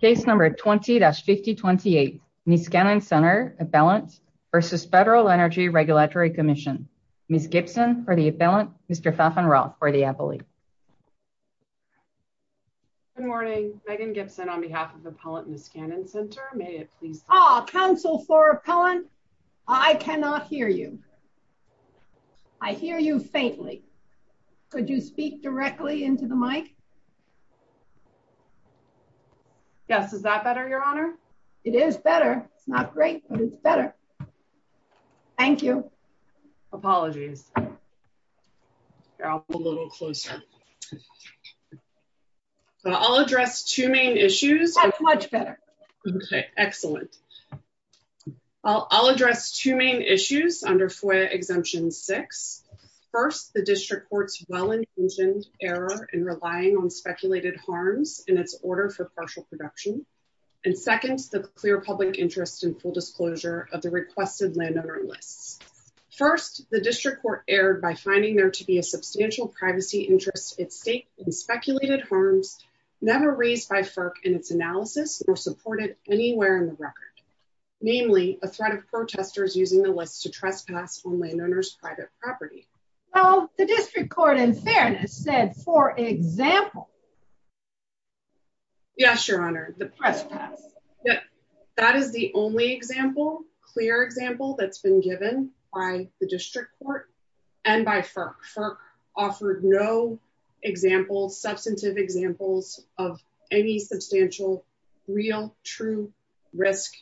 Case number 20-5028, Niskanen Center Appellant versus Federal Energy Regulatory Commission. Ms. Gibson for the appellant, Mr. Pfaffenroth for the appellate. Good morning. Megan Gibson on behalf of the appellant Niskanen Center. May it please... Oh, counsel for appellant, I cannot hear you. I hear you faintly. Could you speak directly into the mic? Yes. Is that better, your honor? It is better. It's not great, but it's better. Thank you. Apologies. I'll go a little closer. I'll address two main issues. That's much better. Okay, excellent. I'll address two main issues under FOIA Exemption 6. First, the district Well, the district court in fairness said, for example... Yes, your honor. That is the only example, clear example that's been given by the district court and by FERC. FERC offered no example, substantive examples of any substantial, real, true risk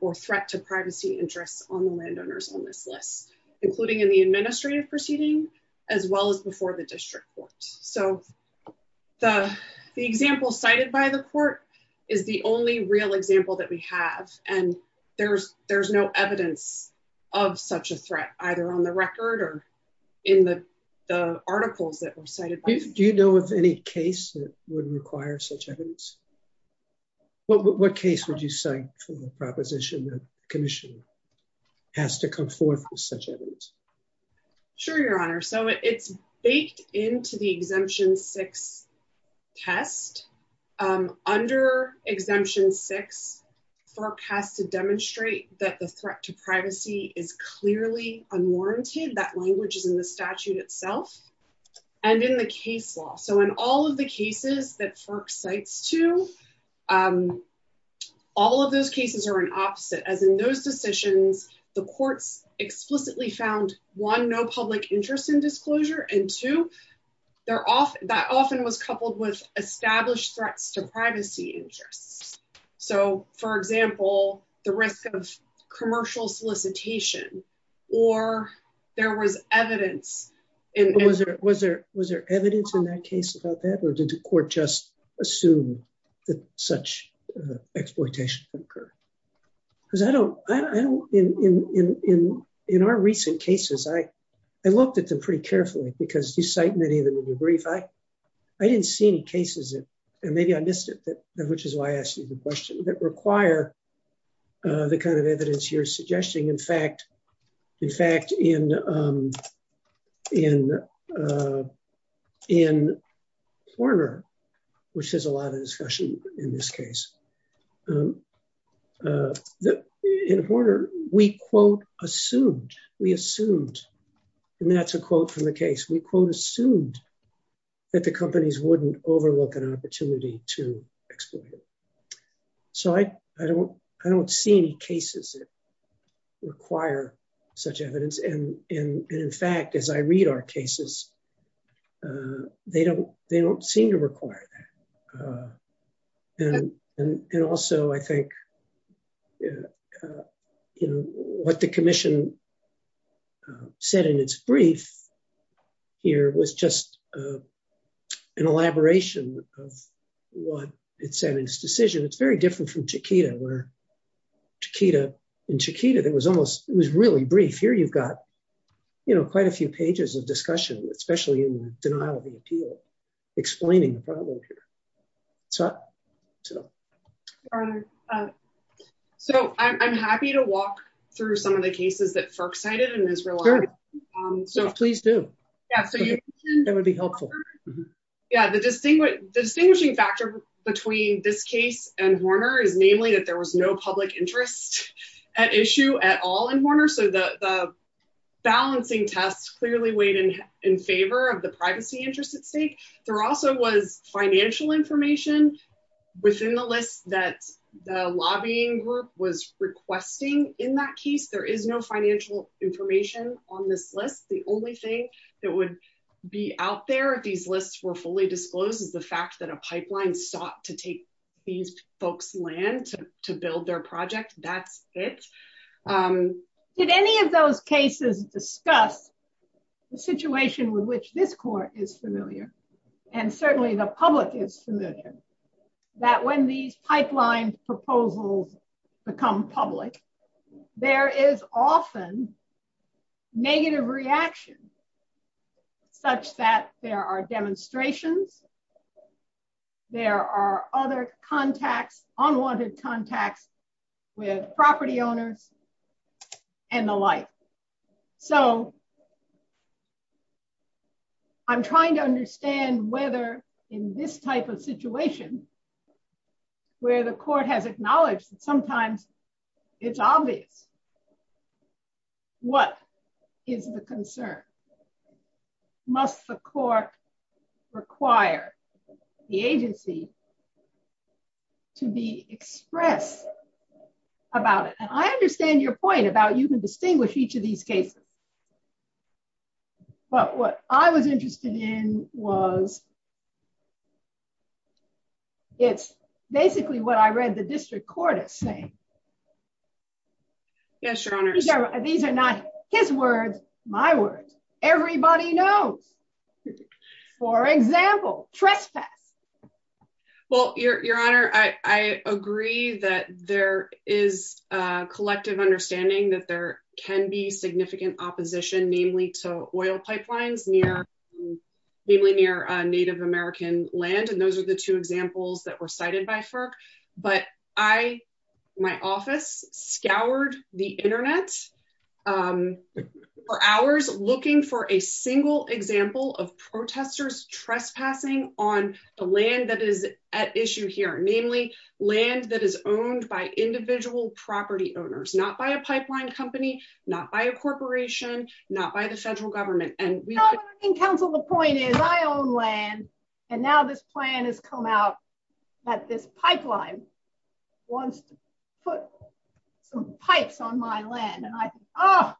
or threat to privacy interests on the landowners on this list, including in the administrative proceeding as well as before the district court. So the example cited by the court is the only real example that we have. And there's no evidence of such a threat, either on the record or in the articles that were cited. Do you know of any case that would require such evidence? What case would you cite for the proposition that the commission has to come forth with such evidence? Sure, your honor. So it's baked into the Exemption 6 test. Under Exemption 6, FERC has to demonstrate that the threat to privacy is clearly unwarranted. That language is in the statute itself and in the case law. So in all of the cases that FERC cites to, all of those cases are an opposite. As in those decisions, the courts explicitly found, one, no public interest in disclosure. And two, that often was coupled with established threats to privacy interests. So, for example, the risk of commercial solicitation or there was evidence. Was there evidence in that case about that? Or did the court just assume that such exploitation would occur? Because in our recent cases, I looked at them pretty carefully, because you cite many of them in the brief. I didn't see any cases, and maybe I missed it, which is why I asked you the question, that require the kind of evidence you're suggesting. In fact, in Horner, which has a lot of discussion in this case, that in Horner, we, quote, assumed, we assumed, and that's a quote from the case, we, quote, assumed that the companies wouldn't overlook an opportunity to exploit it. So I don't see any cases that require such evidence. And in fact, as I read our cases, they don't seem to require that. And also, I think, you know, what the commission said in its brief here was just an elaboration of what it said in its decision. It's very different from Chiquita, where Chiquita, in Chiquita, it was almost, it was really brief. Here, you've got, you know, quite a few pages of discussion, especially in the denial of the appeal, explaining the problem here. So. So I'm happy to walk through some of the cases that FERC cited in Israel. Sure, please do. That would be helpful. Yeah, the distinguishing factor between this case and Horner is namely that there was no public interest at issue at all in Horner. So the balancing tests clearly weighed in favor of the privacy interest at stake. There also was financial information within the list that the lobbying group was requesting in that case. There is no financial information on this list. The only thing that would be out there if these lists were fully disclosed is the fact that a pipeline sought to take these folks' land to build their project. That's it. Did any of those cases discuss the situation with which this court is familiar? And certainly the public is familiar. That when these pipeline proposals become public, there is often negative reaction such that there are demonstrations. There are other contacts, unwanted contacts with property owners and the like. So I'm trying to understand whether in this type of situation where the court has acknowledged that sometimes it's obvious, what is the concern? Must the court require the agency to be expressed about it? I understand your point about you can distinguish each of these cases. But what I was interested in was, it's basically what I read the district court is saying. Yes, your honor. These are not his words, my words. Everybody knows. For example, trespass. Well, your honor, I agree that there is a collective understanding that there can be significant opposition, namely to oil pipelines, mainly near Native American land. And those are the two examples that were cited by FERC. But I, my office scoured the internet for hours looking for a single example of protesters trespassing on the land that is at issue here, namely land that is owned by individual property owners, not by a pipeline company, not by a corporation, not by the federal government. And we can counsel the point is I own land. And now this plan has come out that this pipeline wants to put some pipes on my land. And I, oh,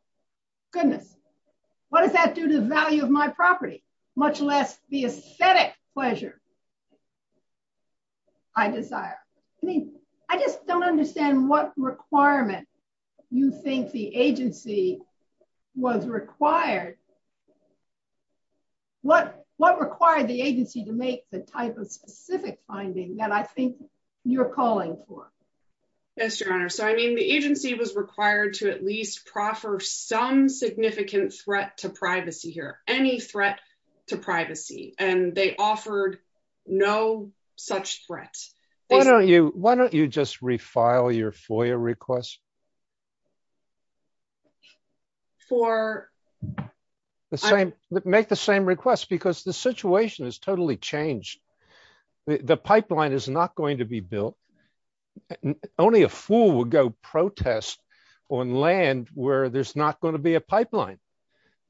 goodness, what does that do to the value of my property? Much less the aesthetic pleasure I desire. I mean, I just don't understand what requirement you think the agency was required. What required the agency to make the type of specific finding that I think you're calling for? Yes, your honor. So, I mean, the agency was required to at least proffer some significant threat to privacy here. Any threat to privacy. And they offered no such threat. Why don't you, why don't you just refile your FOIA request? For? The same, make the same request, because the situation has totally changed. The pipeline is not going to be built. Only a fool would go protest on land where there's not going to be a pipeline.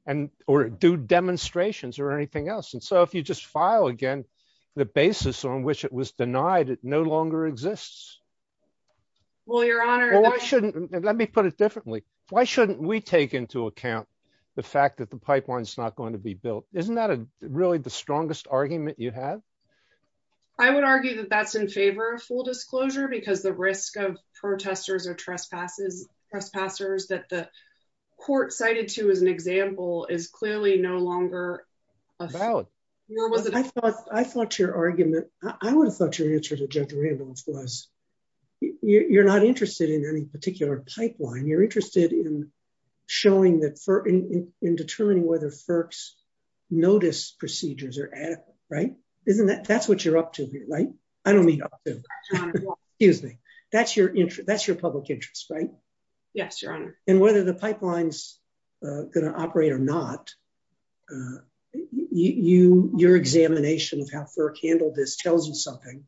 And or do demonstrations or anything else. And so if you just file again, the basis on which it was denied, it no longer exists. Well, your honor. Let me put it differently. Why shouldn't we take into account the fact that the pipeline is not going to be built? Isn't that really the strongest argument you have? I would argue that that's in favor of full disclosure because the risk of example is clearly no longer. I thought your argument. I would have thought your answer to judge Randolph was you're not interested in any particular pipeline. You're interested in showing that for in determining whether FERC's notice procedures are adequate, right? Isn't that that's what you're up to here, right? I don't mean excuse me. That's your interest. That's your public interest, right? Yes, your honor. Whether the pipeline's going to operate or not, your examination of how FERC handled this tells you something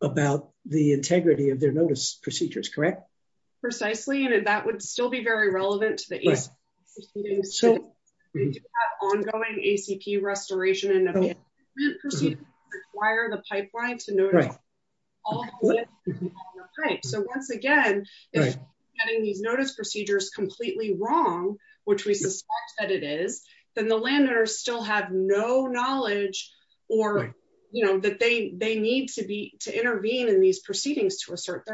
about the integrity of their notice procedures, correct? Precisely. And that would still be very relevant to the ongoing ACP restoration and require the pipeline to know. All right. So once again, getting these notice procedures completely wrong, which we suspect that it is, then the landowners still have no knowledge or that they need to intervene in these proceedings to assert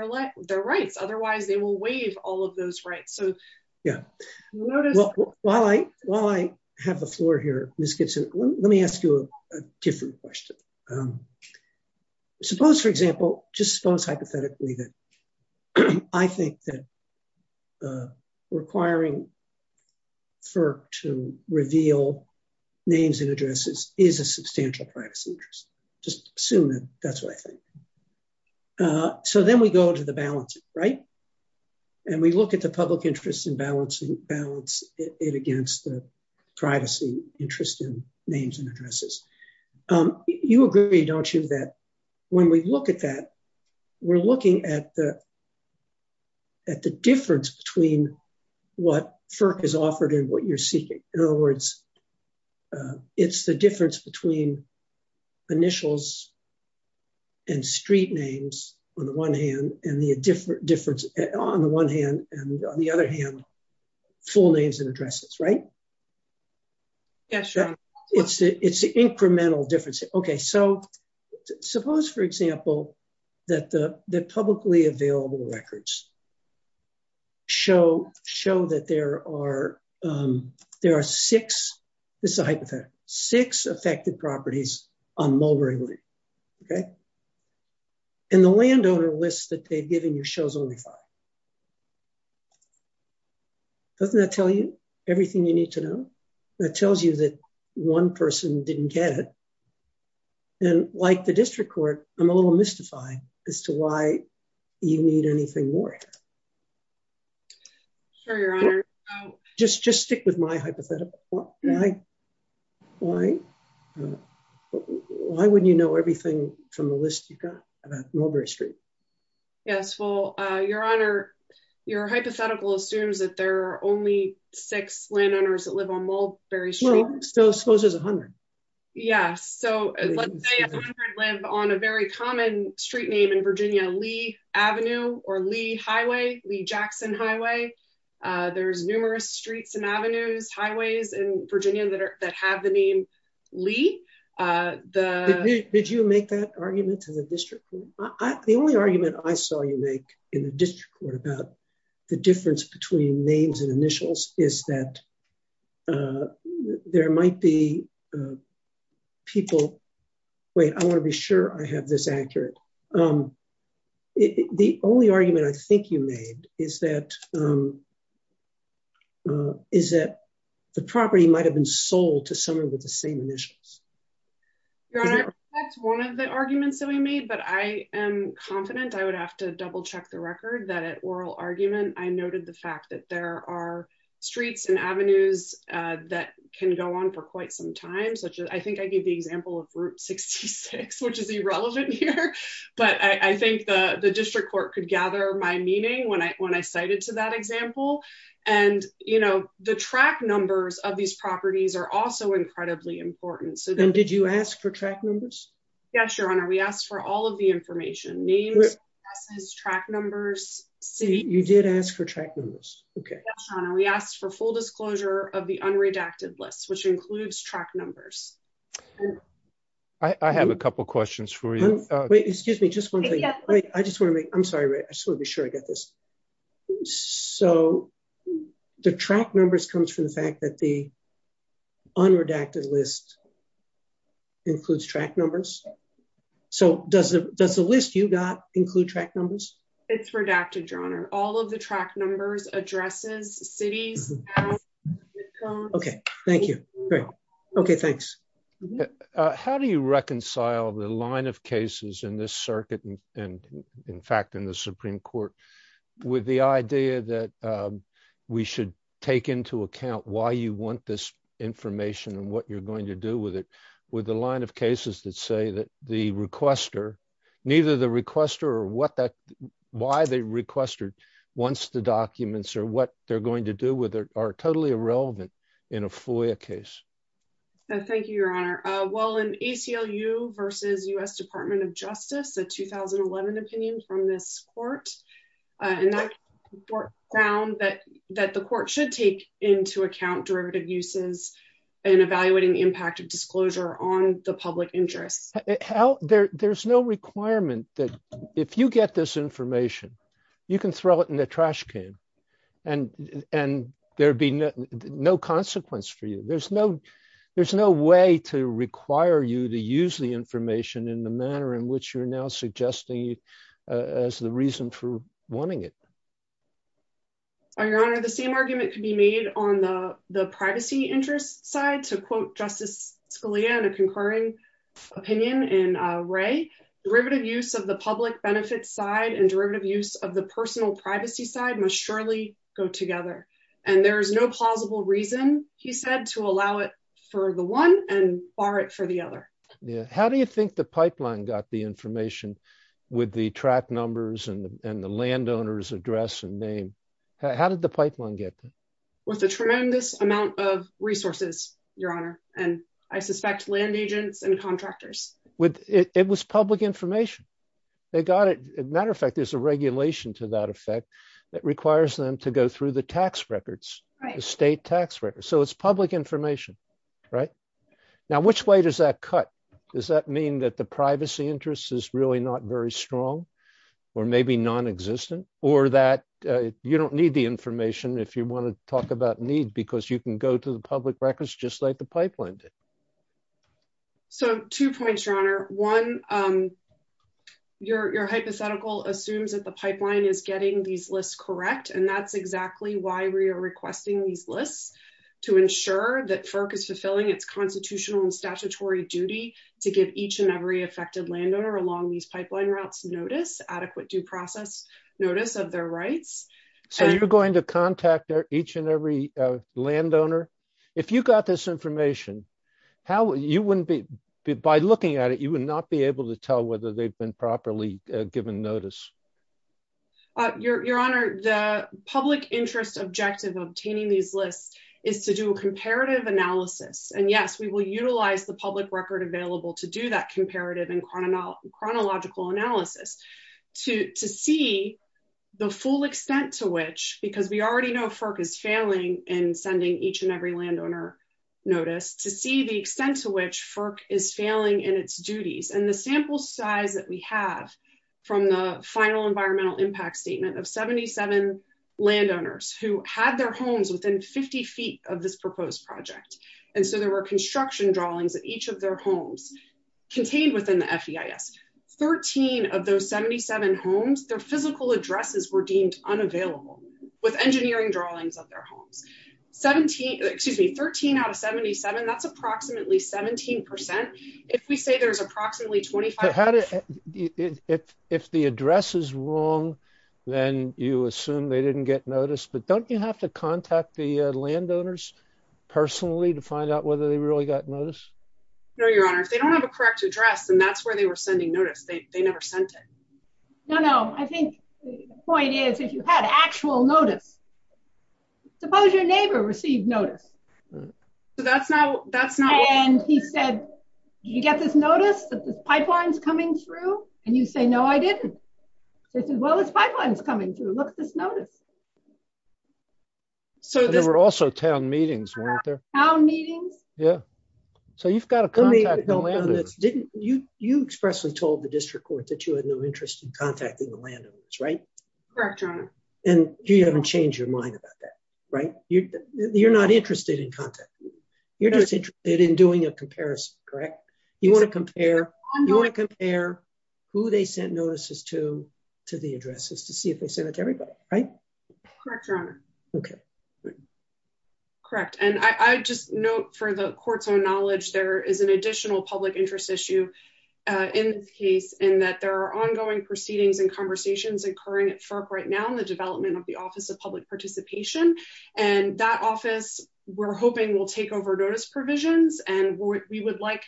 their rights. Otherwise, they will waive all of those rights. So yeah, well, while I have the floor here, let me ask you a different question. Um, suppose, for example, just suppose hypothetically that I think that requiring FERC to reveal names and addresses is a substantial privacy interest. Just assume that that's what I think. So then we go to the balance, right? And we look at the public interest in balancing balance it against the privacy interest in names and addresses. Um, you agree, don't you, that when we look at that, we're looking at the at the difference between what FERC has offered and what you're seeking. In other words, it's the difference between initials and street names on the one hand and the difference on the one hand and on the other hand, full names and addresses, right? Yes, it's it's the incremental difference. Okay. So suppose, for example, that the publicly available records show that there are, um, there are six, this is a hypothetical, six affected properties on Mulberry Lane. Okay. And the landowner lists that they've given you shows only five. Doesn't that tell you everything you need to know that tells you that one person didn't get it. And like the district court, I'm a little mystified as to why you need anything more. Sure, your honor. Just, just stick with my hypothetical. Why, why, why wouldn't you know everything from the list you've got about Mulberry Street? Yes. Well, uh, your honor, your hypothetical assumes that there are only six landowners that live on Mulberry Street. So suppose there's a hundred. Yes. So let's say a hundred live on a very common street name in Virginia, Lee Avenue or Lee Highway, Lee Jackson Highway. Uh, there's numerous streets and avenues, highways in Virginia that are, that have the name Lee, uh, the. Did you make that argument to the district? The only argument I saw you make in the district court about the difference between names and initials is that, uh, there might be, uh, people wait, I want to be sure I have this accurate. Um, the only argument I think you made is that, um, uh, is that the property might've been sold to someone with the same initials. One of the arguments that we made, but I am confident I would have to double check the record that at oral argument, I noted the fact that there are streets and avenues, uh, that can go on for quite some time, such as, I think I gave the example of route 66, which is irrelevant here, but I think the district court could gather my meaning when I, when I cited to that example and you know, the track numbers of these properties are also incredibly important. Then did you ask for track numbers? Yes. Your honor. We asked for all of the information names, track numbers. You did ask for track numbers. Okay. We asked for full disclosure of the unredacted list, which includes track numbers. I have a couple of questions for you. Wait, excuse me. Just one thing. I just want to make, I'm sorry. I just want to be sure I get this. So the track numbers comes from the fact that the unredacted list includes track numbers. So does the, does the list you got include track numbers? It's redacted, your honor. All of the track numbers addresses cities. Okay. Thank you. Great. Okay. Thanks. How do you reconcile the line of cases in this circuit? And in fact, in the Supreme court with the idea that we should take into account why you want this information and what you're going to do with it with the line of cases that say that the requester, neither the requester or what that, why they requested once the documents or what they're going to do with it are totally irrelevant in a FOIA case. Thank you, your honor. Well, in ACLU versus us department of justice, the 2011 opinion from this court and that report found that, that the court should take into account derivative uses and evaluating the impact of disclosure on the public interest. There's no requirement that if you get this information, you can throw it in the trash can. And, and there'd be no consequence for you. There's no way to require you to use the information in the manner in which you're now suggesting as the reason for wanting it. Oh, your honor, the same argument could be made on the, the privacy interest side to quote justice Scalia and a concurring opinion in a ray derivative use of the public benefits side and derivative use of the personal privacy side must surely go together. And there is no plausible reason. He said to allow it for the one and bar it for the other. Yeah. How do you think the pipeline got the information with the track numbers and the landowners address and name? How did the pipeline get there? With a tremendous amount of resources, your honor. And I suspect land agents and contractors. It was public information. They got it. As a matter of fact, there's a regulation to that effect that requires them to go through the tax records, the state tax records. So it's public information, right? Now, which way does that cut? Does that mean that the privacy interest is really not very strong or maybe non-existent or that you don't need the information if you want to talk about need, because you can go to the public records, just like the pipeline did. So two points, your honor. One, your hypothetical assumes that the pipeline is getting these lists correct. And that's exactly why we are requesting these lists to ensure that FERC is fulfilling its constitutional and statutory duty to give each and every affected landowner along these pipeline routes notice, adequate due process notice of their rights. So you're going to contact each and every landowner. If you got this information, by looking at it, you would not be able to tell whether they've been properly given notice. Your honor, the public interest objective of obtaining these lists is to do a comparative analysis. And yes, we will utilize the public record available to do that comparative and chronological analysis to see the full extent to which, because we already know FERC is failing in sending each and every landowner notice, to see the extent to which FERC is failing in its duties. And the sample size that we have from the final environmental impact statement of 77 landowners who had their homes within 50 feet of this proposed project. And so there were construction drawings at each of their homes contained within the FEIS. 13 of those 77 homes, their physical addresses were deemed unavailable with engineering drawings of their homes. 17, excuse me, 13 out of 77. That's approximately 17%. If we say there's approximately 25. If the address is wrong, then you assume they didn't get notice. But don't you have to contact the landowners personally to find out whether they really got notice? No, your honor. If they don't have a correct address, then that's where they were sending notice. They never sent it. No, no. I think the point is if you had actual notice. Suppose your neighbor received notice. So that's not, that's not. And he said, you get this notice that the pipeline's coming through and you say, no, I didn't. They said, well, this pipeline is coming through. Look at this notice. So there were also town meetings, weren't there? Town meetings. Yeah. So you've got to contact the landowners. You expressly told the district court that you had no interest in contacting the landowners, right? Correct, your honor. And you haven't changed your mind about that, right? You're not interested in contact. You're just interested in doing a comparison, correct? You want to compare, you want to compare who they sent notices to, to the addresses to see if they send it to everybody, right? Correct, your honor. Okay. Correct. And I just note for the court's own knowledge, there is an additional public interest issue in this case in that there are ongoing proceedings and conversations occurring at FERC right now in the development of the office of public participation. And that office we're hoping will take over notice provisions. And we would like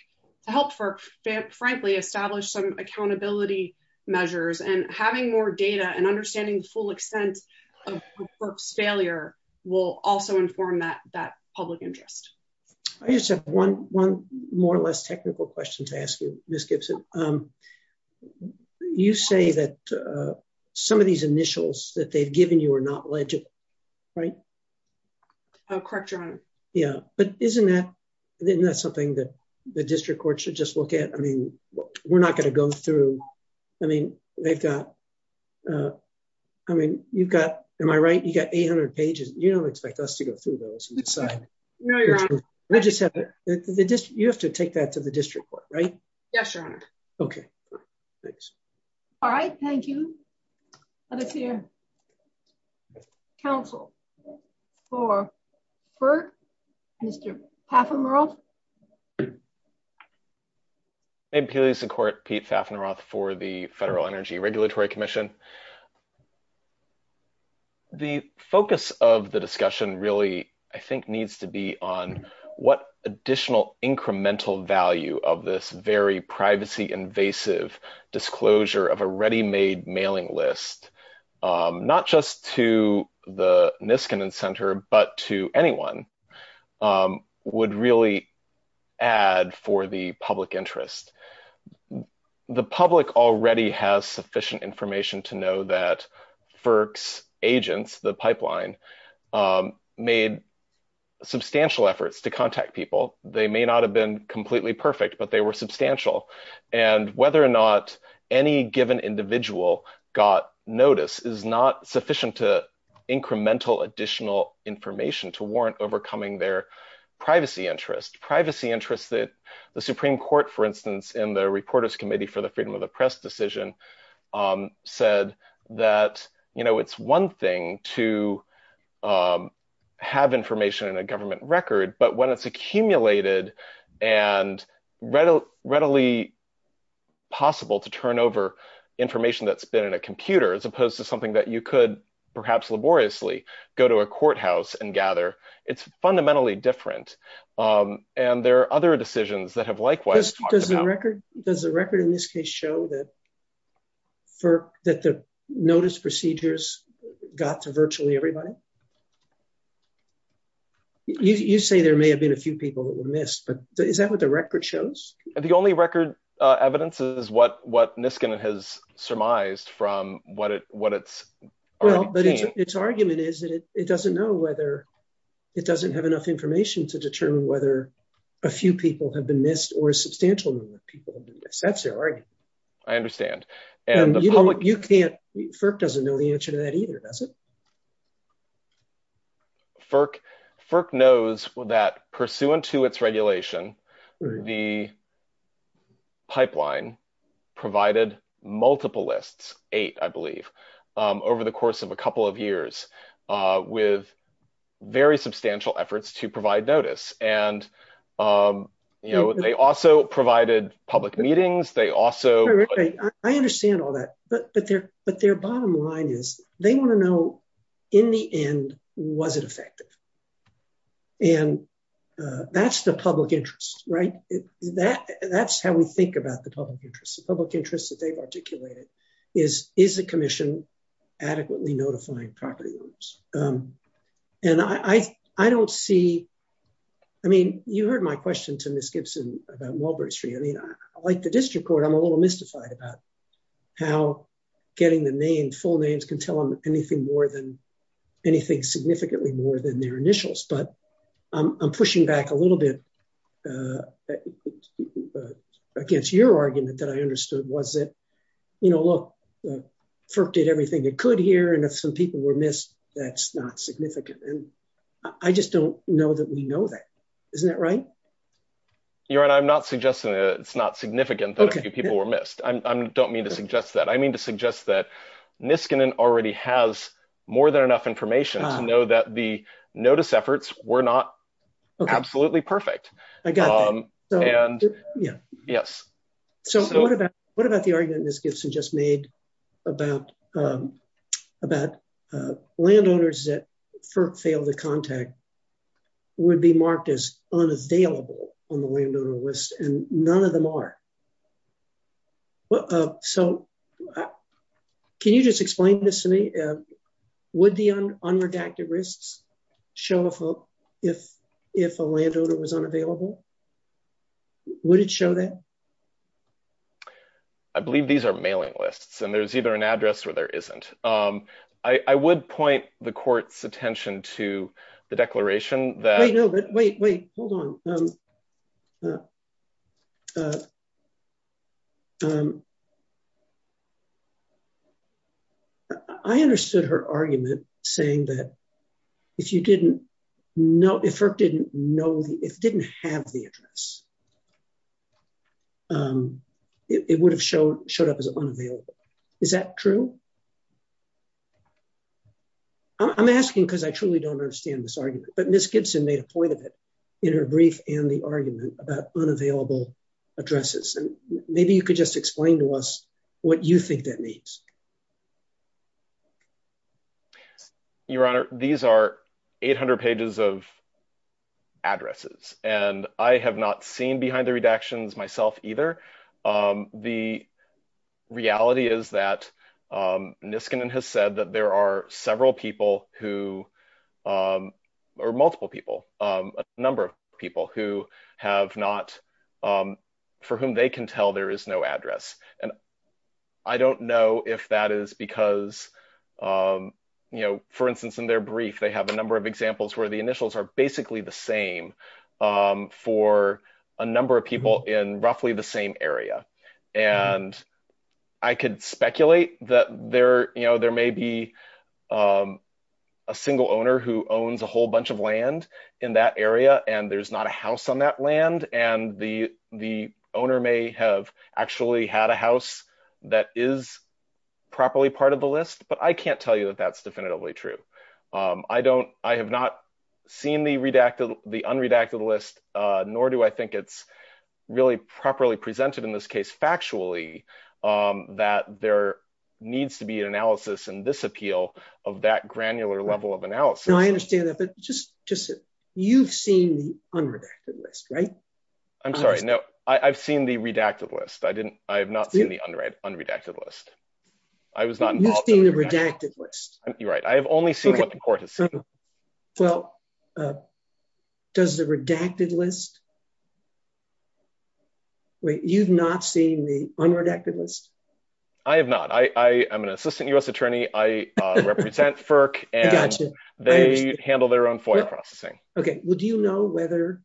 to help FERC, frankly, establish some accountability measures and having more data and understanding the full extent of FERC's failure will also inform that public interest. I just have one more or less technical question to ask you, Ms. Gibson. Um, you say that, uh, some of these initials that they've given you are not legit, right? Oh, correct, your honor. Yeah. But isn't that, isn't that something that the district court should just look at? I mean, we're not going to go through, I mean, they've got, uh, I mean, you've got, am I right? You got 800 pages. You don't expect us to go through those and decide. No, your honor. We'll just have the district, you have to take that to the district court, right? Yes, your honor. Okay. Thanks. All right. Thank you. Let us hear counsel for FERC, Mr. Paffenroth. I'm Pete Paffenroth for the Federal Energy Regulatory Commission. The focus of the discussion really, I think, needs to be on what additional incremental value of this very privacy-invasive disclosure of a ready-made mailing list, not just to the Niskanen Center, but to anyone, would really add for the public interest. The public already has sufficient information to know that FERC's agents, the pipeline, made substantial efforts to contact people. They may not have been completely perfect, but they were substantial. And whether or not any given individual got notice is not sufficient to incremental additional information to warrant overcoming their privacy interests. Privacy interests that the Supreme Court, for instance, in the Reporters Committee for the Freedom of the Press decision, said that, you know, it's one thing to have information in a government record. But when it's accumulated and readily possible to turn over information that's been in a computer, as opposed to something that you could perhaps laboriously go to a courthouse and gather, it's fundamentally different. And there are other decisions that have likewise talked about. Does the record in this case show that the notice procedures got to virtually everybody? You say there may have been a few people that were missed, but is that what the record shows? The only record evidence is what Niskanen has surmised from what it's already obtained. Its argument is that it doesn't know whether, it doesn't have enough information to determine whether a few people have been missed or a substantial number of people have been missed. That's their argument. I understand. You can't, FERC doesn't know the answer to that either, does it? FERC knows that pursuant to its regulation, the pipeline provided multiple lists, eight, I believe, over the course of a couple of years with very substantial efforts to provide notice. And, you know, they also provided public meetings. They also... I understand all that. But their bottom line is they want to know, in the end, was it effective? And that's the public interest, right? That's how we think about the public interest. The public interest that they've articulated is, is the commission adequately notifying property owners? And I don't see... I mean, you heard my question to Ms. Gibson about Walbury Street. I mean, like the district court, I'm a little mystified about how getting the name, full names, can tell them anything more than, anything significantly more than their initials. But I'm pushing back a little bit against your argument that I understood was that, you know, look, FERC did everything it could here. And if some people were missed, that's not significant. And I just don't know that we know that. Isn't that right? You're right. I'm not suggesting that it's not significant that a few people were missed. I don't mean to suggest that. I mean to suggest that Niskanen already has more than enough information to know that the notice efforts were not absolutely perfect. I got that. Yes. So what about the argument Ms. Gibson just made about landowners that FERC failed to contact would be marked as unavailable on the landowner list, and none of them are? So can you just explain this to me? Would the unredacted risks show up if a landowner was unavailable? Would it show that? I believe these are mailing lists, and there's either an address or there isn't. I would point the court's attention to the declaration that... Wait, no, wait, wait, hold on. I understood her argument saying that if you didn't know, if FERC didn't know, if it didn't have the address, it would have showed up as unavailable. Is that true? I'm asking because I truly don't understand this argument, but Ms. Gibson made a point of it in her brief and the argument about unavailable addresses. And maybe you could just explain that to me. What do you think that means? Your Honor, these are 800 pages of addresses, and I have not seen behind the redactions myself either. The reality is that Niskanen has said that there are several people who, or multiple people, a number of people who have not, for whom they can tell there is no address. I don't know if that is because, for instance, in their brief, they have a number of examples where the initials are basically the same for a number of people in roughly the same area. I could speculate that there may be a single owner who owns a whole bunch of land in that area, and there's not a house on that land, and the owner may have actually had a house that is properly part of the list. But I can't tell you that that's definitively true. I have not seen the unredacted list, nor do I think it's really properly presented in this case factually, that there needs to be an analysis in this appeal of that granular level of analysis. I understand that, but you've seen the unredacted list, right? I'm sorry, no. I've seen the redacted list. I have not seen the unredacted list. I was not involved in the redacted list. You're right. I have only seen what the court has seen. Well, does the redacted list... Wait, you've not seen the unredacted list? I have not. I am an assistant U.S. attorney. I represent FERC, and they handle their own FOIA processing. Okay. Well, do you know whether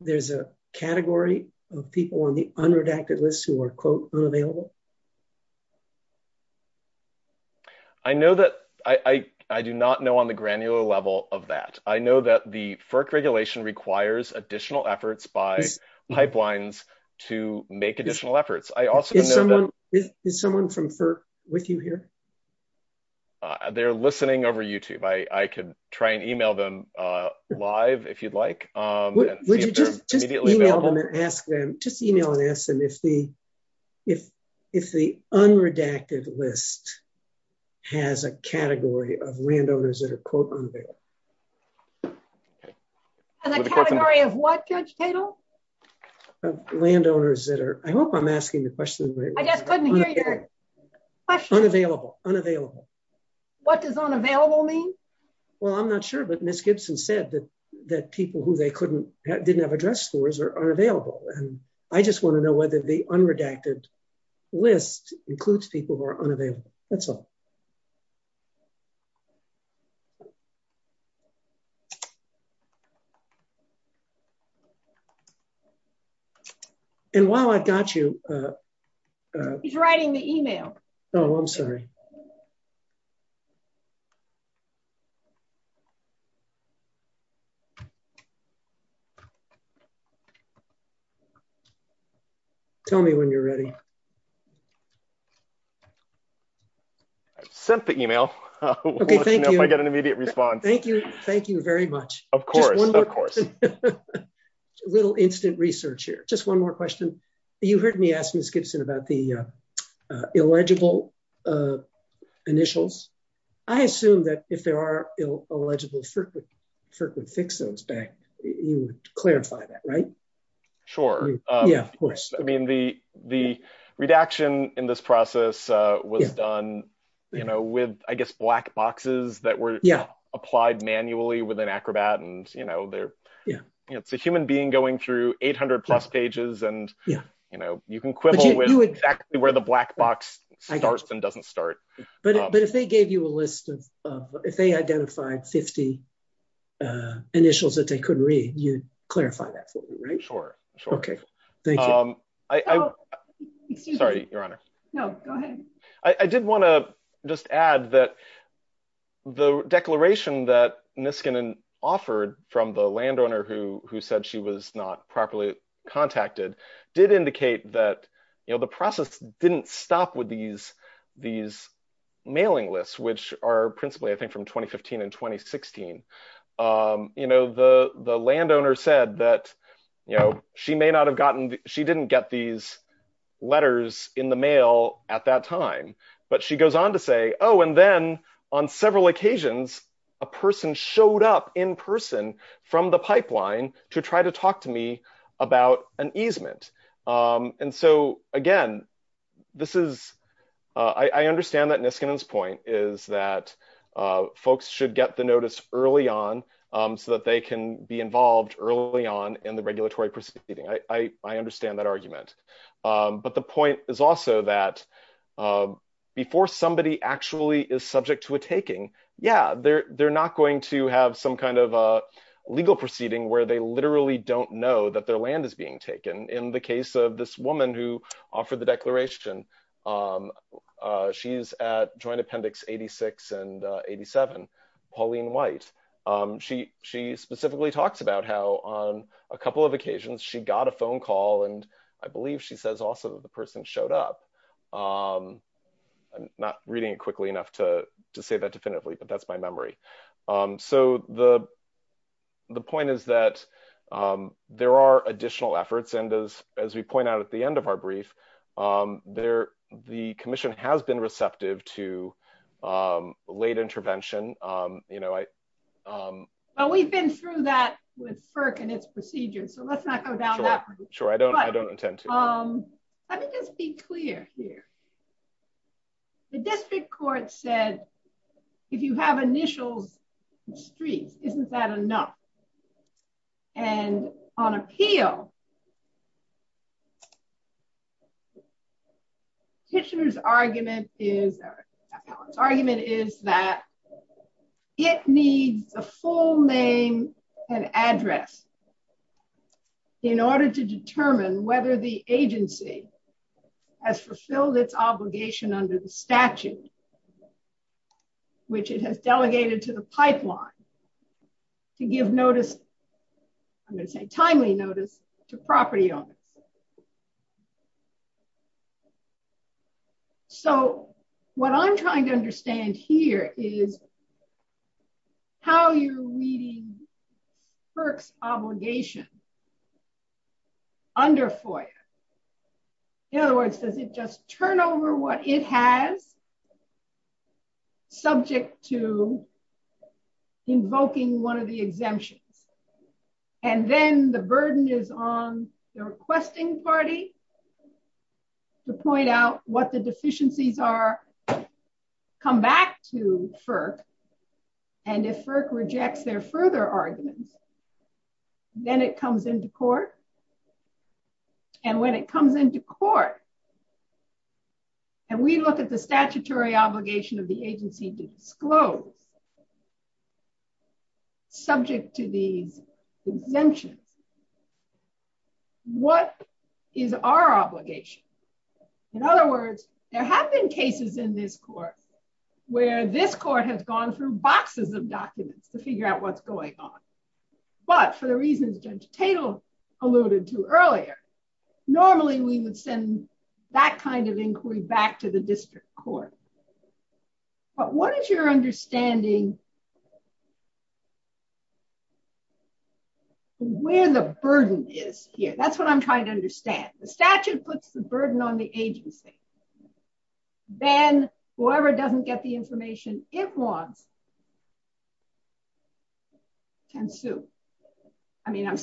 there's a category of people on the unredacted list who are, quote, unavailable? I do not know on the granular level of that. I know that the FERC regulation requires additional efforts by pipelines to make additional efforts. Is someone from FERC with you here? They're listening over YouTube. I could try and email them live if you'd like. Would you just email them and ask them if the unredacted list has a category of landowners that are, quote, unavailable? A category of what, Judge Tatel? Landowners that are... I hope I'm asking the question right. I just couldn't hear your question. Unavailable. Unavailable. What does unavailable mean? Well, I'm not sure, but Ms. Gibson said that people who they didn't have address scores are unavailable. I just want to know whether the unredacted list includes people who are unavailable. That's all. And while I've got you... He's writing the email. Oh, I'm sorry. I've sent the email. I'll let you know if I get an immediate response. Thank you. Thank you very much. Of course. Of course. Little instant research here. Just one more question. You heard me ask Ms. Gibson about the illegible initials. I assume that if there are illegible FERC would fix those back. You would clarify that, right? Sure. Yeah, of course. I mean, the redaction in this process was done with, I guess, black boxes that were applied manually with an acrobat. It's a human being going through 800 plus pages and you can quibble with exactly where the black box starts and doesn't start. But if they gave you a list of... If they identified 50 initials that they couldn't read, you'd clarify that for me, right? Sure. Sure. Okay. Thank you. Sorry, Your Honor. No, go ahead. I did want to just add that the declaration that Niskanen offered from the landowner who said she was not properly contacted did indicate that the process didn't stop with these mailing lists, which are principally, I think, from 2015 and 2016. The landowner said that she may not have gotten... She didn't get these letters in the mail at that time, but she goes on to say, oh, and then on several occasions, a person showed up in person from the pipeline to try to talk to me about an easement. And so, again, this is... I understand that Niskanen's point is that folks should get the notice early on so that they can be involved early on in the regulatory proceeding. I understand that argument. But the point is also that before somebody actually is subject to a taking, yeah, they're not going to have some kind of legal proceeding where they literally don't know that their land is being taken. In the case of this woman who offered the declaration, she's at Joint Appendix 86 and 87, Pauline White. She specifically talks about how on a couple of occasions she got a phone call, and I believe she says also that the person showed up. I'm not reading it quickly enough to say that definitively, but that's my memory. So the point is that there are additional efforts, and as we point out at the end of our brief, the commission has been receptive to late intervention. We've been through that with FERC and its procedures, so let's not go down that route. Sure, I don't intend to. Let me just be clear here. The district court said if you have initials streets, isn't that enough? And on appeal, Kitchener's argument is that it needs a full name and address in order to determine whether the agency has fulfilled its obligation under the statute, which it has delegated to the pipeline to give notice, I'm going to say timely notice, to property owners. So what I'm trying to understand here is how you're reading FERC's obligation under FOIA. In other words, does it just turn over what it has to say, subject to invoking one of the exemptions, and then the burden is on the requesting party to point out what the deficiencies are, come back to FERC, and if FERC rejects their further arguments, then it comes into court. And when it comes into court, and we look at the statutory obligation of the agency to disclose, subject to these exemptions, what is our obligation? In other words, there have been cases in this court where this court has gone through boxes of documents to figure out what's but for the reasons Judge Tatel alluded to earlier, normally we would send that kind of inquiry back to the district court. But what is your understanding where the burden is here? That's what I'm trying to understand. The statute puts the burden on the agency. Then whoever doesn't get the information it wants can sue. I mean, I'm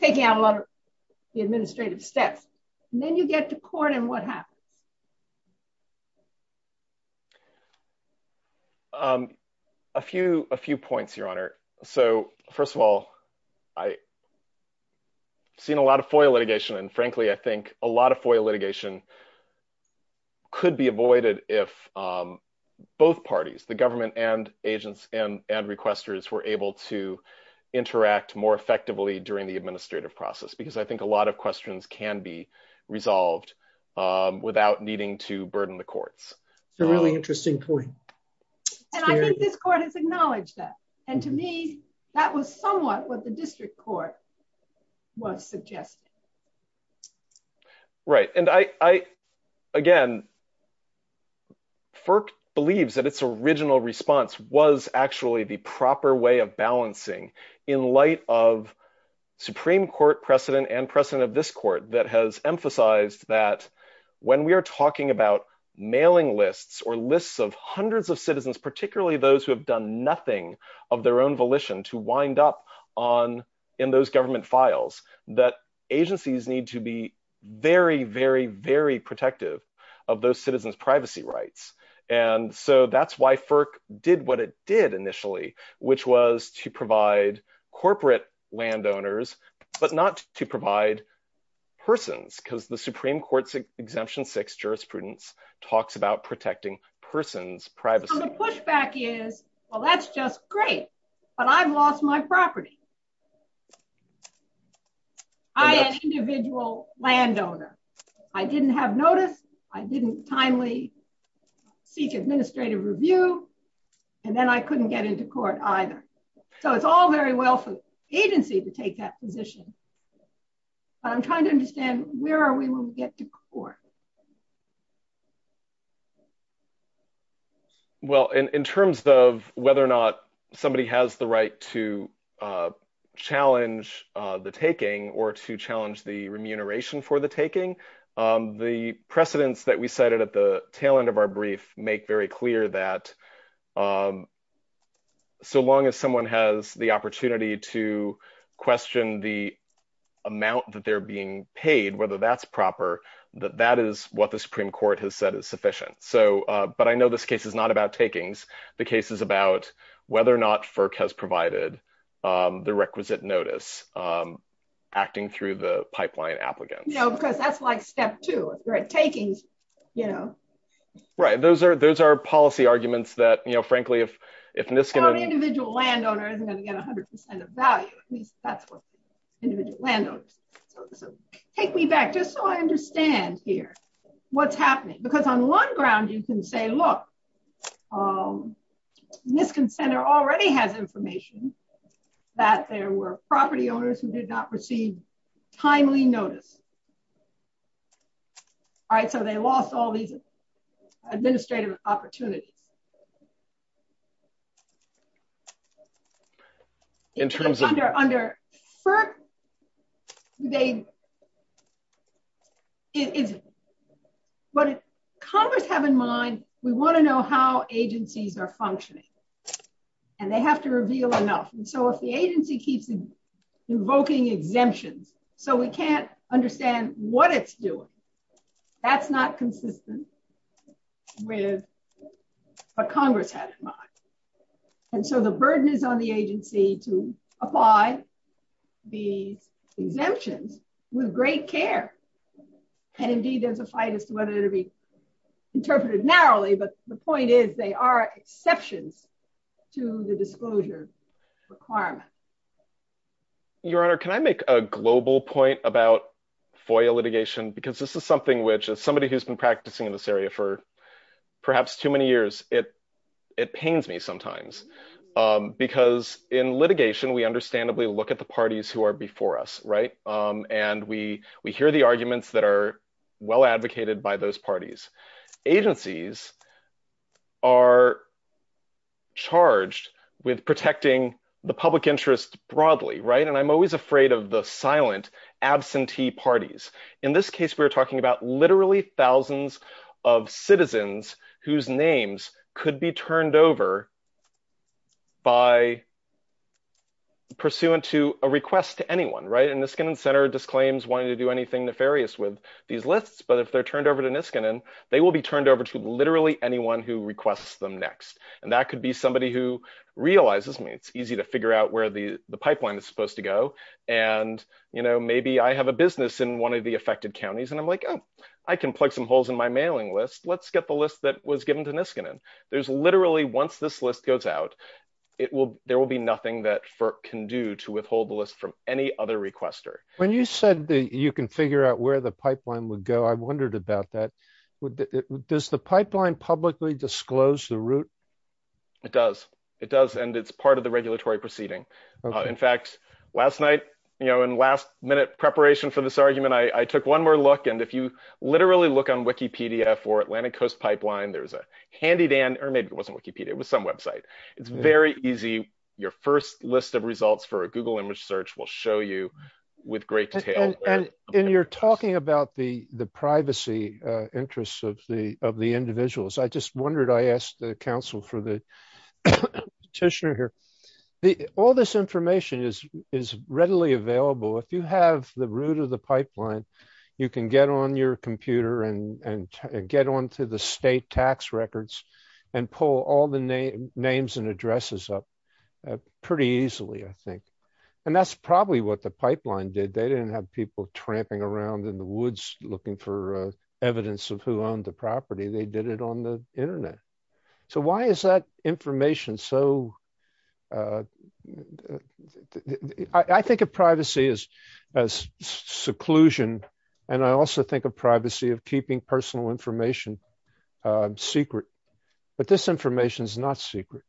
taking out a lot of the administrative steps. And then you get to court, and what happens? A few points, Your Honor. So first of all, I've seen a lot of FOIA litigation, and frankly, I think a lot of FOIA litigation could be avoided if both parties, the government and agents and requesters, were able to interact more effectively during the administrative process, because I think a lot of questions can be resolved without needing to burden the courts. It's a really interesting point. And I think this court has acknowledged that. And to me, that was somewhat what the district court was suggesting. Right. And again, FERC believes that its original response was actually the proper way of balancing in light of Supreme Court precedent and precedent of this court that has emphasized that when we are talking about mailing lists or lists of hundreds of in those government files, that agencies need to be very, very, very protective of those citizens' privacy rights. And so that's why FERC did what it did initially, which was to provide corporate landowners, but not to provide persons, because the Supreme Court's Exemption 6 jurisprudence talks about protecting persons' privacy. And the pushback is, well, that's just great, but I've lost my property. I am an individual landowner. I didn't have notice. I didn't timely seek administrative review. And then I couldn't get into court either. So it's all very well for agency to take that position. But I'm trying to understand where are we when we get to court? Well, in terms of whether or not somebody has the right to challenge the taking or to challenge the remuneration for the taking, the precedents that we cited at the tail end of our brief make very clear that so long as someone has the opportunity to question the amount that they're being paid, whether that's proper, that that is what the Supreme Court has said is sufficient. So, but I know this case is not about takings. The case is about whether or not FERC has provided the requisite notice acting through the pipeline applicants. No, because that's like step two. If you're at takings, you know. Right. Those are policy arguments that, you know, frankly, if NISC... No individual landowner isn't going to get 100% of value. At least that's what I understand here. What's happening? Because on one ground, you can say, look, NISC and center already has information that there were property owners who did not receive timely notice. All right. So they lost all these administrative opportunities. In terms of... Under FERC, they... What Congress have in mind, we want to know how agencies are functioning and they have to reveal enough. And so if the agency keeps invoking exemptions, so we can't understand what it's doing, that's not consistent with what Congress had in mind. And so the burden is on the agency to apply these exemptions with great care. And indeed, there's a fight as to whether it'll be interpreted narrowly, but the point is they are exceptions to the disclosure requirement. Your Honor, can I make a global point about FOIA litigation? Because this is something which, as somebody who's been practicing in this area for perhaps too many years, it pains me sometimes. Because in litigation, we understandably look at the parties who are before us, right? And we hear the arguments that are well advocated by those parties. Agencies are charged with protecting the public interest broadly, right? And I'm always afraid of the silent absentee parties. In this case, we're talking about literally thousands of citizens whose names could be turned over by pursuant to a request to anyone, right? And Niskanen Center disclaims wanting to do anything nefarious with these lists, but if they're turned over to Niskanen, they will be turned over to literally anyone who requests them next. And that could be somebody who realizes me, easy to figure out where the pipeline is supposed to go. And maybe I have a business in one of the affected counties, and I'm like, oh, I can plug some holes in my mailing list. Let's get the list that was given to Niskanen. There's literally, once this list goes out, there will be nothing that FERC can do to withhold the list from any other requester. When you said that you can figure out where the pipeline would go, I wondered about that. Does the pipeline publicly disclose the regulatory proceeding? In fact, last night, you know, in last minute preparation for this argument, I took one more look, and if you literally look on Wikipedia for Atlantic Coast Pipeline, there's a handy, or maybe it wasn't Wikipedia, it was some website. It's very easy. Your first list of results for a Google image search will show you with great detail. And you're talking about the privacy interests of the individuals. I just wondered, I asked the council for the petitioner here, all this information is readily available. If you have the route of the pipeline, you can get on your computer and get onto the state tax records and pull all the names and addresses up pretty easily, I think. And that's probably what the pipeline did. They didn't have people tramping around in the woods looking for evidence of who owned the property. They did it on the internet. So why is that information? So I think of privacy as seclusion. And I also think of privacy of keeping personal information secret. But this information is not secret.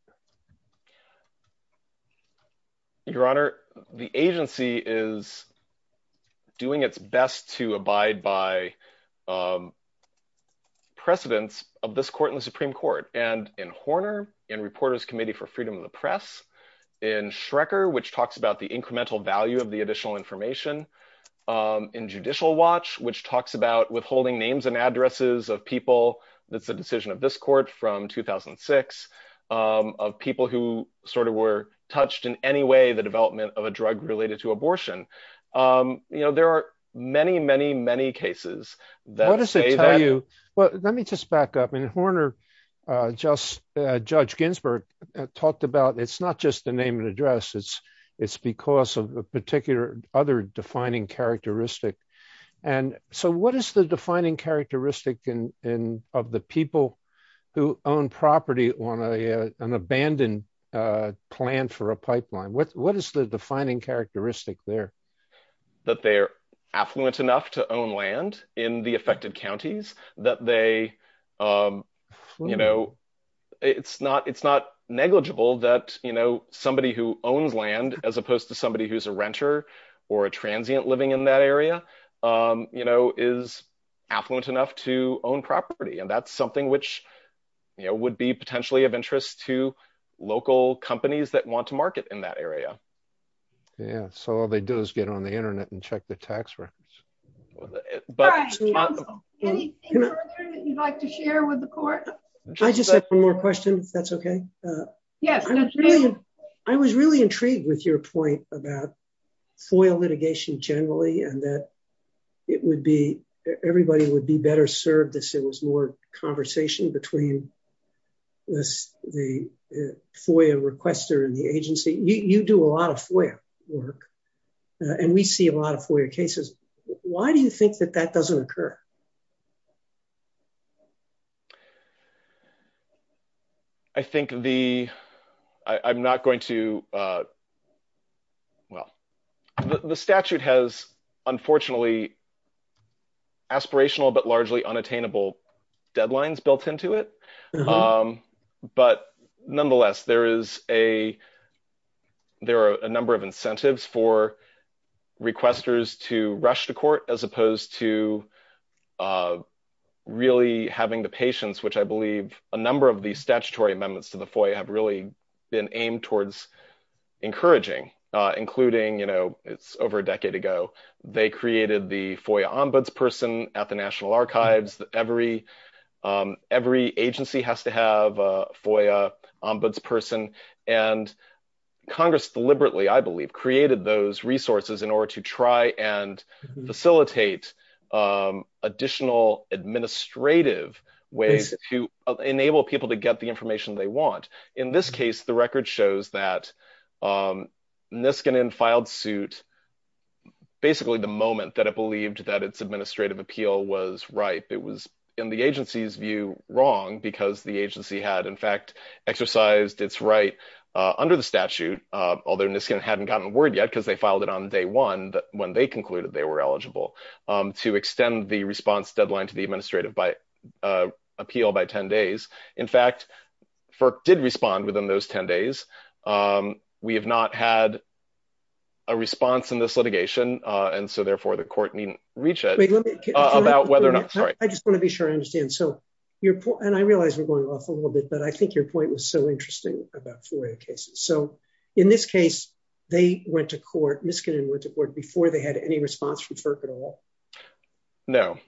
Your Honor, the agency is doing its best to abide by precedents of this court in the Supreme Court and in Horner, in Reporters Committee for Freedom of the Press, in Schrecker, which talks about the incremental value of the additional information, in Judicial Watch, which talks about withholding names and addresses of people. That's the decision of this court from 2006 of people who sort of were touched in any way the development of a drug related to abortion. There are many, many, many cases that say that- What does it tell you? Well, let me just back up. In Horner, Judge Ginsburg talked about, it's not just the name and address, it's because of a particular other defining characteristic. And so what is the defining characteristic of the people who own property on an abandoned plan for a pipeline? What is the defining characteristic there? That they're affluent enough to own land in the affected counties. It's not negligible that somebody who owns land, as opposed to somebody who's a renter or a transient living in that area, is affluent enough to own property. And that's something which would be potentially of interest to local companies that want to market in that area. Yeah. So all they do is get on the internet and check the tax records. But- Anything further that you'd like to share with the court? I just have one more question, if that's okay. Yes, that's fine. I was really intrigued with your point about FOIA litigation generally, and that everybody would be better served if there was more conversation between the FOIA requester and the agency. You do a lot of FOIA work, and we see a lot of FOIA cases. Why do you think that that doesn't occur? I think the... I'm not going to... Well, the statute has, unfortunately, aspirational but largely unattainable deadlines built into it. But nonetheless, there is a... There are a number of incentives for requesters to rush to court, as opposed to a really having the patience, which I believe a number of the statutory amendments to the FOIA have really been aimed towards encouraging, including... It's over a decade ago, they created the FOIA ombuds person at the National Archives. Every agency has to have a FOIA ombuds person. And Congress deliberately, I believe, created those resources in order to try and facilitate additional administrative ways to enable people to get the information they want. In this case, the record shows that Niskanen filed suit basically the moment that it believed that its administrative appeal was right. It was, in the agency's view, wrong because the agency had, in fact, exercised its right under the statute, although Niskanen hadn't gotten a word yet, because they filed it on day one, when they concluded they were eligible, to extend the response deadline to the administrative appeal by 10 days. In fact, FERC did respond within those 10 days. We have not had a response in this litigation, and so therefore the court needn't reach it about whether or not... Sorry. I just want to be sure I understand. So, and I realize we're going off a little bit, but I think your point was so interesting about FOIA cases. So, in this case, they went to court, Niskanen went to court, before they had any response from FERC at all? No.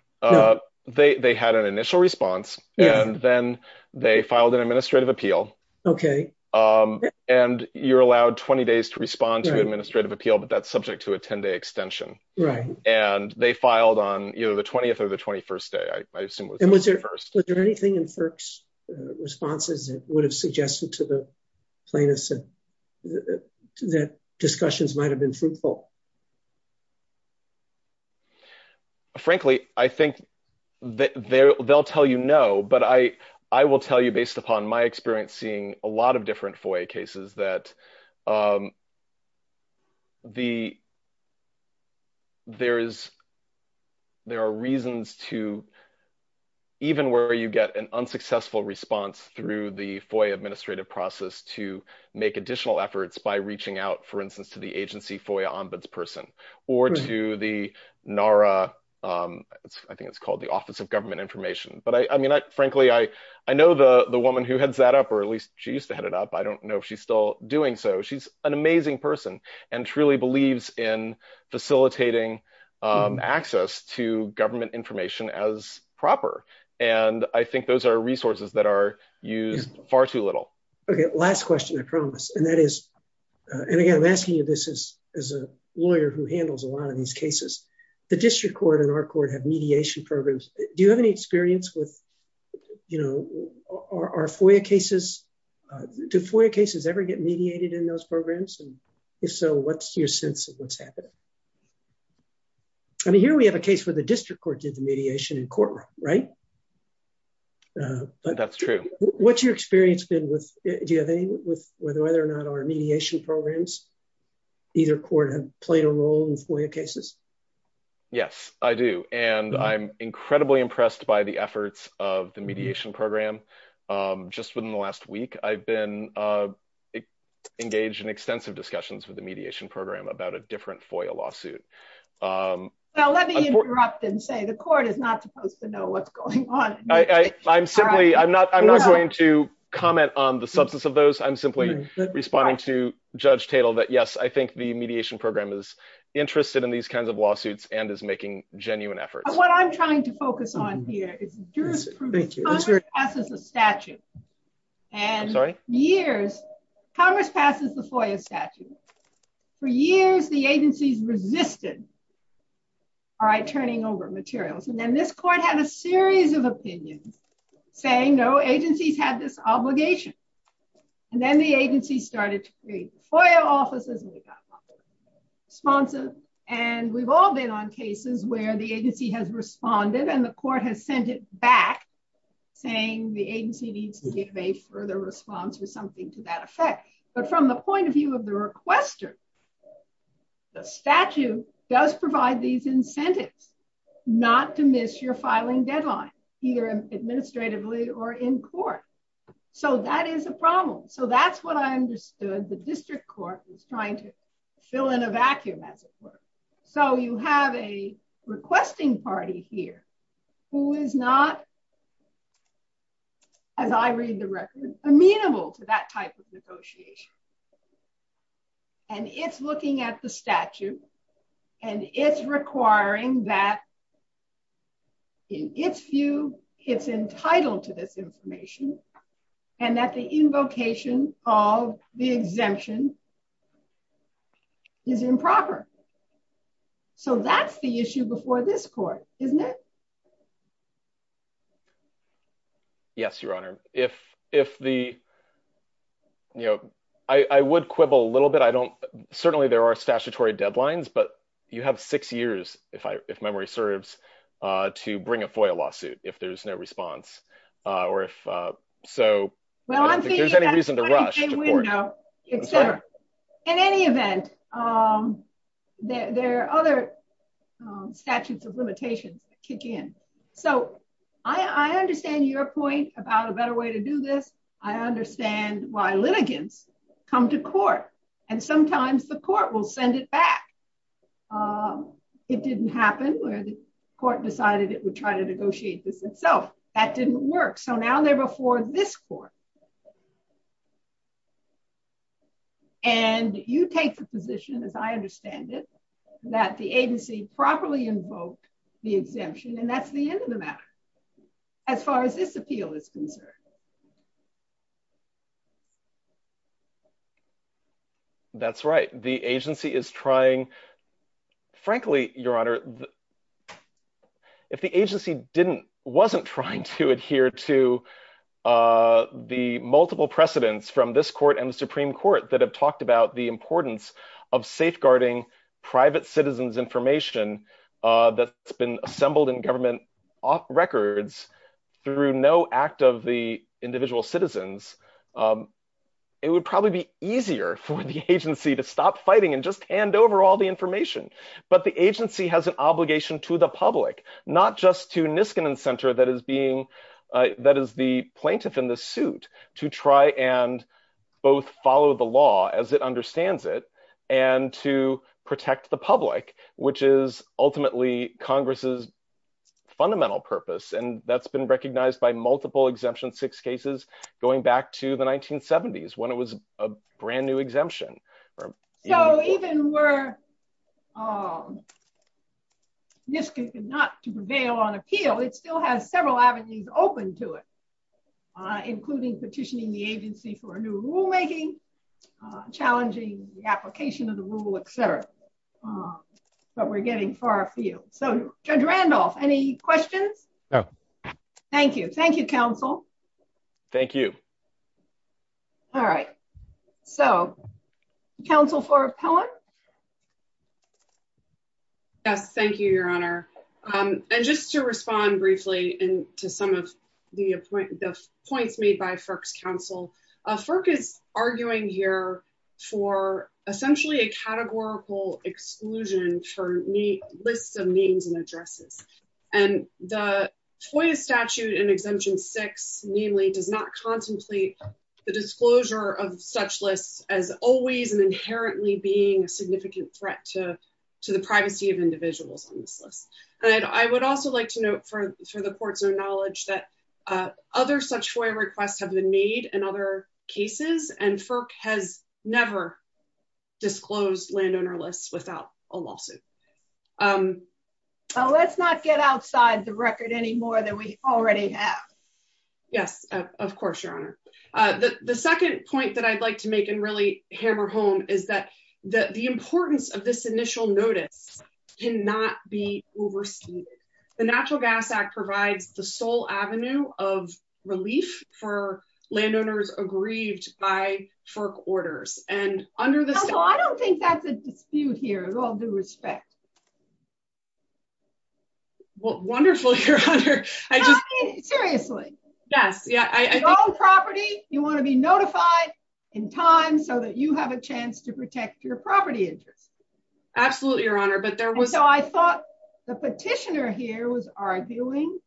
They had an initial response, and then they filed an administrative appeal. Okay. And you're allowed 20 days to respond to administrative appeal, but that's subject to a 10-day extension. Right. And they filed on either the 20th or the 21st day, I assume it was the 21st. And was there anything in FERC's responses that would have suggested to the plaintiffs that discussions might have been fruitful? Frankly, I think they'll tell you no, but I will tell you, based upon my experience seeing a lot of different FOIA cases, that there are reasons to, even where you get an unsuccessful response through the FOIA administrative process, to make additional efforts by reaching out, for instance, to the agency FOIA ombudsperson or to the NARA, I think it's called the Office of Government Information. But I mean, frankly, I know the woman who heads that up, or at least she used to head it up. I don't know if she's doing so. She's an amazing person and truly believes in facilitating access to government information as proper. And I think those are resources that are used far too little. Okay. Last question, I promise. And that is, and again, I'm asking you this as a lawyer who handles a lot of these cases, the district court and our court have mediation programs. Do you have any experience with our FOIA cases? Do FOIA cases ever get mediated in those programs? And if so, what's your sense of what's happening? I mean, here we have a case where the district court did the mediation in courtroom, right? That's true. What's your experience been with, do you have any with whether or not our mediation programs, either court have played a role in FOIA cases? Yes, I do. And I'm incredibly impressed by the efforts of the mediation program. Just within the last week, I've been engaged in extensive discussions with the mediation program about a different FOIA lawsuit. Well, let me interrupt and say, the court is not supposed to know what's going on. I'm simply, I'm not going to comment on the substance of those. I'm simply responding to Judge Tatel that yes, I think the mediation program is interested in these kinds of lawsuits and is making genuine efforts. What I'm trying to focus on here is jurisprudence. Congress passes a statute and years, Congress passes the FOIA statute. For years, the agencies resisted, all right, turning over materials. And then this court had a series of opinions saying, no, agencies had this obligation. And then the agency started to FOIA offices. And we've all been on cases where the agency has responded and the court has sent it back saying the agency needs to give a further response or something to that effect. But from the point of view of the requester, the statute does provide these incentives not to miss your filing deadline, either administratively or in court. So that is a district court is trying to fill in a vacuum as it were. So you have a requesting party here who is not, as I read the record, amenable to that type of negotiation. And it's looking at the statute and it's requiring that in its view, it's entitled to information and that the invocation of the exemption is improper. So that's the issue before this court, isn't it? Yes, Your Honor. I would quibble a little bit. Certainly there are statutory deadlines, but you have six years, if memory serves, to bring a FOIA lawsuit if there's no response. Well, I'm thinking that's a 20-day window, et cetera. In any event, there are other statutes of limitations that kick in. So I understand your point about a better way to do this. I understand why litigants come to court and sometimes the court will send it back. It didn't happen where the court decided it would try to negotiate this itself. That didn't work. So now they're before this court. And you take the position, as I understand it, that the agency properly invoked the exemption and that's the end of the matter as far as this appeal is concerned. That's right. The agency is trying... Frankly, Your Honor, if the agency wasn't trying to adhere to the multiple precedents from this court and the Supreme Court that have talked about the importance of safeguarding private citizens' information that's been assembled in government records through no act of the individual citizens, it would probably be easier for the agency to stop fighting and just hand over all the information. But the agency has an obligation to the public, not just to Niskanen Center that is the plaintiff in the suit to try and both follow the law as it understands it and to protect the public, which is ultimately Congress's fundamental purpose. And that's been recognized by multiple exemption six cases going back to the 1970s when it was a brand new exemption. So even were Niskanen not to prevail on appeal, it still has several avenues open to it, including petitioning the agency for a new rulemaking, challenging the application of the rule, et cetera. But we're getting far afield. So Judge Randolph, any questions? Thank you. Thank you, counsel. Thank you. All right. So counsel for appellant. Yes, thank you, Your Honor. And just to respond briefly to some of the points made by FERC's counsel, FERC is arguing here for essentially a categorical exclusion for lists of names and the disclosure of such lists as always and inherently being a significant threat to the privacy of individuals on this list. And I would also like to note for the court's own knowledge that other such FOIA requests have been made and other cases and FERC has never disclosed landowner lists without a lawsuit. Let's not get outside the record anymore that we already have. Yes, of course, Your Honor. The second point that I'd like to make and really hammer home is that the importance of this initial notice cannot be overstated. The Natural Gas Act provides the sole avenue of relief for landowners aggrieved by FERC orders. And under the... Counsel, I don't think that's a dispute here at all due respect. Well, wonderful, Your Honor. I just... Seriously. Yes, yeah, I think... Your own property, you want to be notified in time so that you have a chance to protect your property interest. Absolutely, Your Honor, but there was... So I thought the petitioner here was arguing,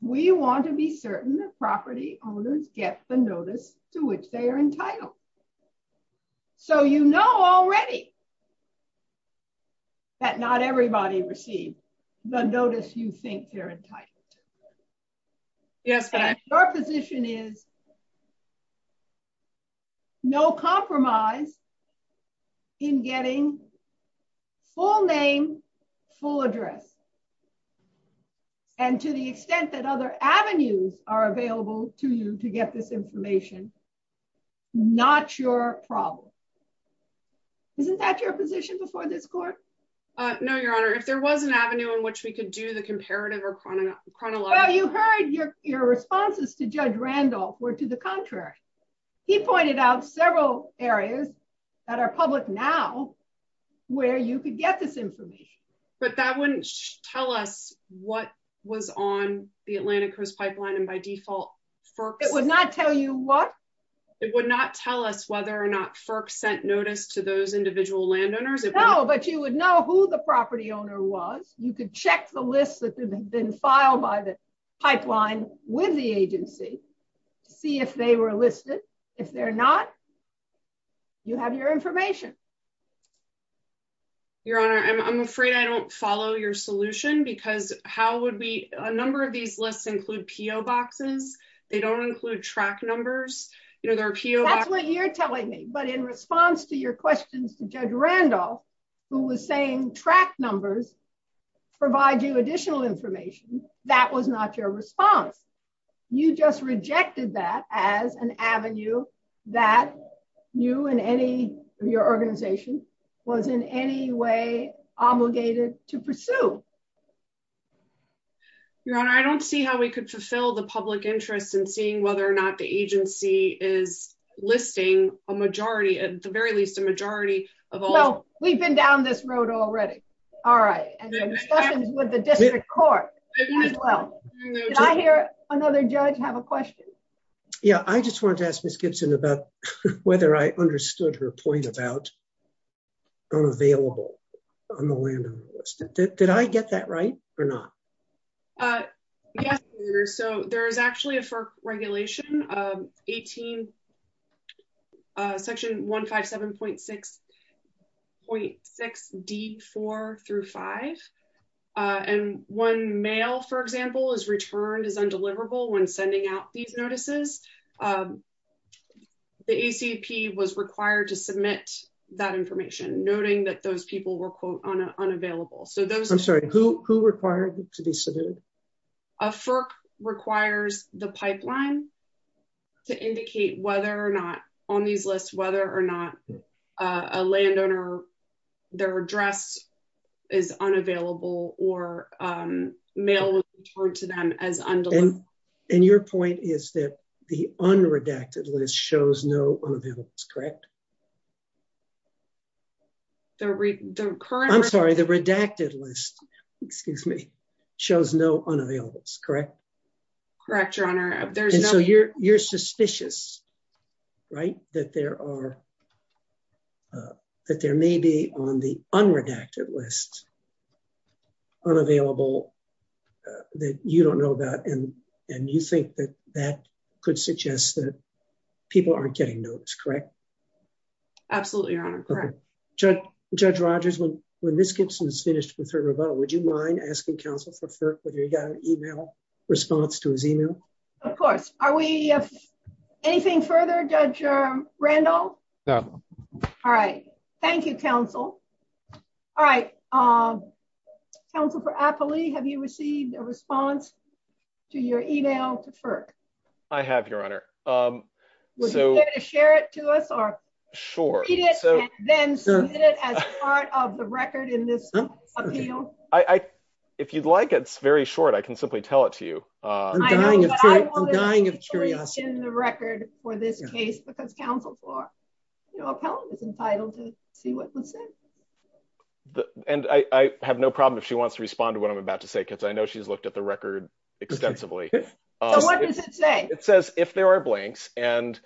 we want to be certain that property owners get the notice to which they are entitled. So you know already that not everybody received the notice you think they're entitled to. Yes, but I... Your position is no compromise in getting full name, full address. And to the extent that other avenues are available to you to get this information, not your problem. Isn't that your position before this court? No, Your Honor, if there was an avenue in which we could do the comparative or chronological... Well, you heard your responses to Judge Randolph were to the contrary. He pointed out several areas that are public now where you could get this information. But that wouldn't tell us what was on the Atlantic Coast Pipeline and by default, FERC... It would not tell you what? It would not tell us whether or not FERC sent notice to those individual landowners. No, but you would know who the property owner was. You could check the lists that have been filed by the pipeline with the agency, see if they were listed. If they're not, you have your information. Your Honor, I'm afraid I don't follow your solution because how would we... A number of these lists include PO boxes. They don't include track numbers. There are PO... That's what you're telling me. But in response to your questions to Judge Randolph, who was saying track numbers provide you additional information, that was not your response. You just rejected that as an avenue that you and any of your organization was in any way obligated to pursue. Your Honor, I don't see how we could fulfill the public interest in seeing whether or not agency is listing a majority, at the very least a majority of all... No, we've been down this road already. All right. And discussions with the district court as well. Did I hear another judge have a question? Yeah, I just wanted to ask Ms. Gibson about whether I understood her point about unavailable on the landowner list. Did I get that right or not? Yes, Your Honor. So there is actually a FERC regulation, section 157.6D4-5. And when mail, for example, is returned as undeliverable when sending out these notices, the ACP was required to submit that information, noting that those people were quote, unavailable. So those... I'm sorry, who required to be submitted? A FERC requires the pipeline to indicate whether or not on these lists, whether or not a landowner, their address is unavailable or mail was returned to them as undeliverable. And your point is that the unredacted list shows no unavailableness, correct? The current... I'm sorry, the redacted list, excuse me, shows no unavailableness, correct? Correct, Your Honor. There's no... And so you're suspicious, right? That there are, that there may be on the unredacted list, unavailable that you don't know about. And you think that that could suggest that Absolutely, Your Honor, correct. Judge Rogers, when Ms. Gibson is finished with her rebuttal, would you mind asking Council for FERC whether he got an email response to his email? Of course. Are we... Anything further, Judge Randall? No. All right. Thank you, Council. All right. Council for Apley, have you received a response to your email to FERC? I have, Your Honor. Would you care to share it to us or read it and then submit it as part of the record in this appeal? If you'd like, it's very short. I can simply tell it to you. I'm dying of curiosity. I'm dying of curiosity. I wanted to reach in the record for this case because Council for Apley was entitled to see what was said. And I have no problem if she wants to respond to what I'm about to say, because I know she's looked at the record extensively. So what does it say? It says if there are blanks and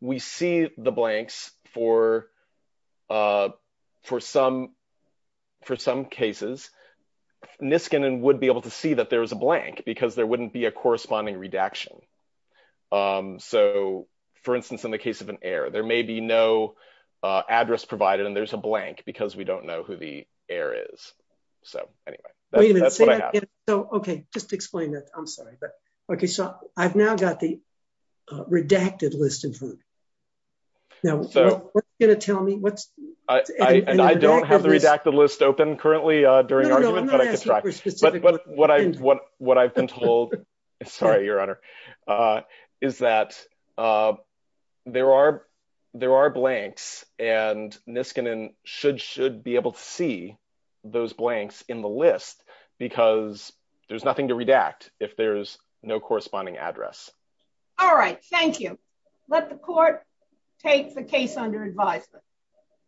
we see the blanks for some cases, Niskanen would be able to see that there is a blank because there wouldn't be a corresponding redaction. So for instance, in the case of an error, there may be no address provided and there's a blank because we don't know who the error is. So anyway, that's what I have. So OK, just explain that. I'm sorry. But OK, so I've now got the redacted list in front of me. Now, what's it going to tell me? I don't have the redacted list open currently during argument, but I can try. What I've been told, sorry, Your Honor, is that there are blanks and Niskanen should be able to those blanks in the list because there's nothing to redact if there's no corresponding address. All right. Thank you. Let the court take the case under advisement.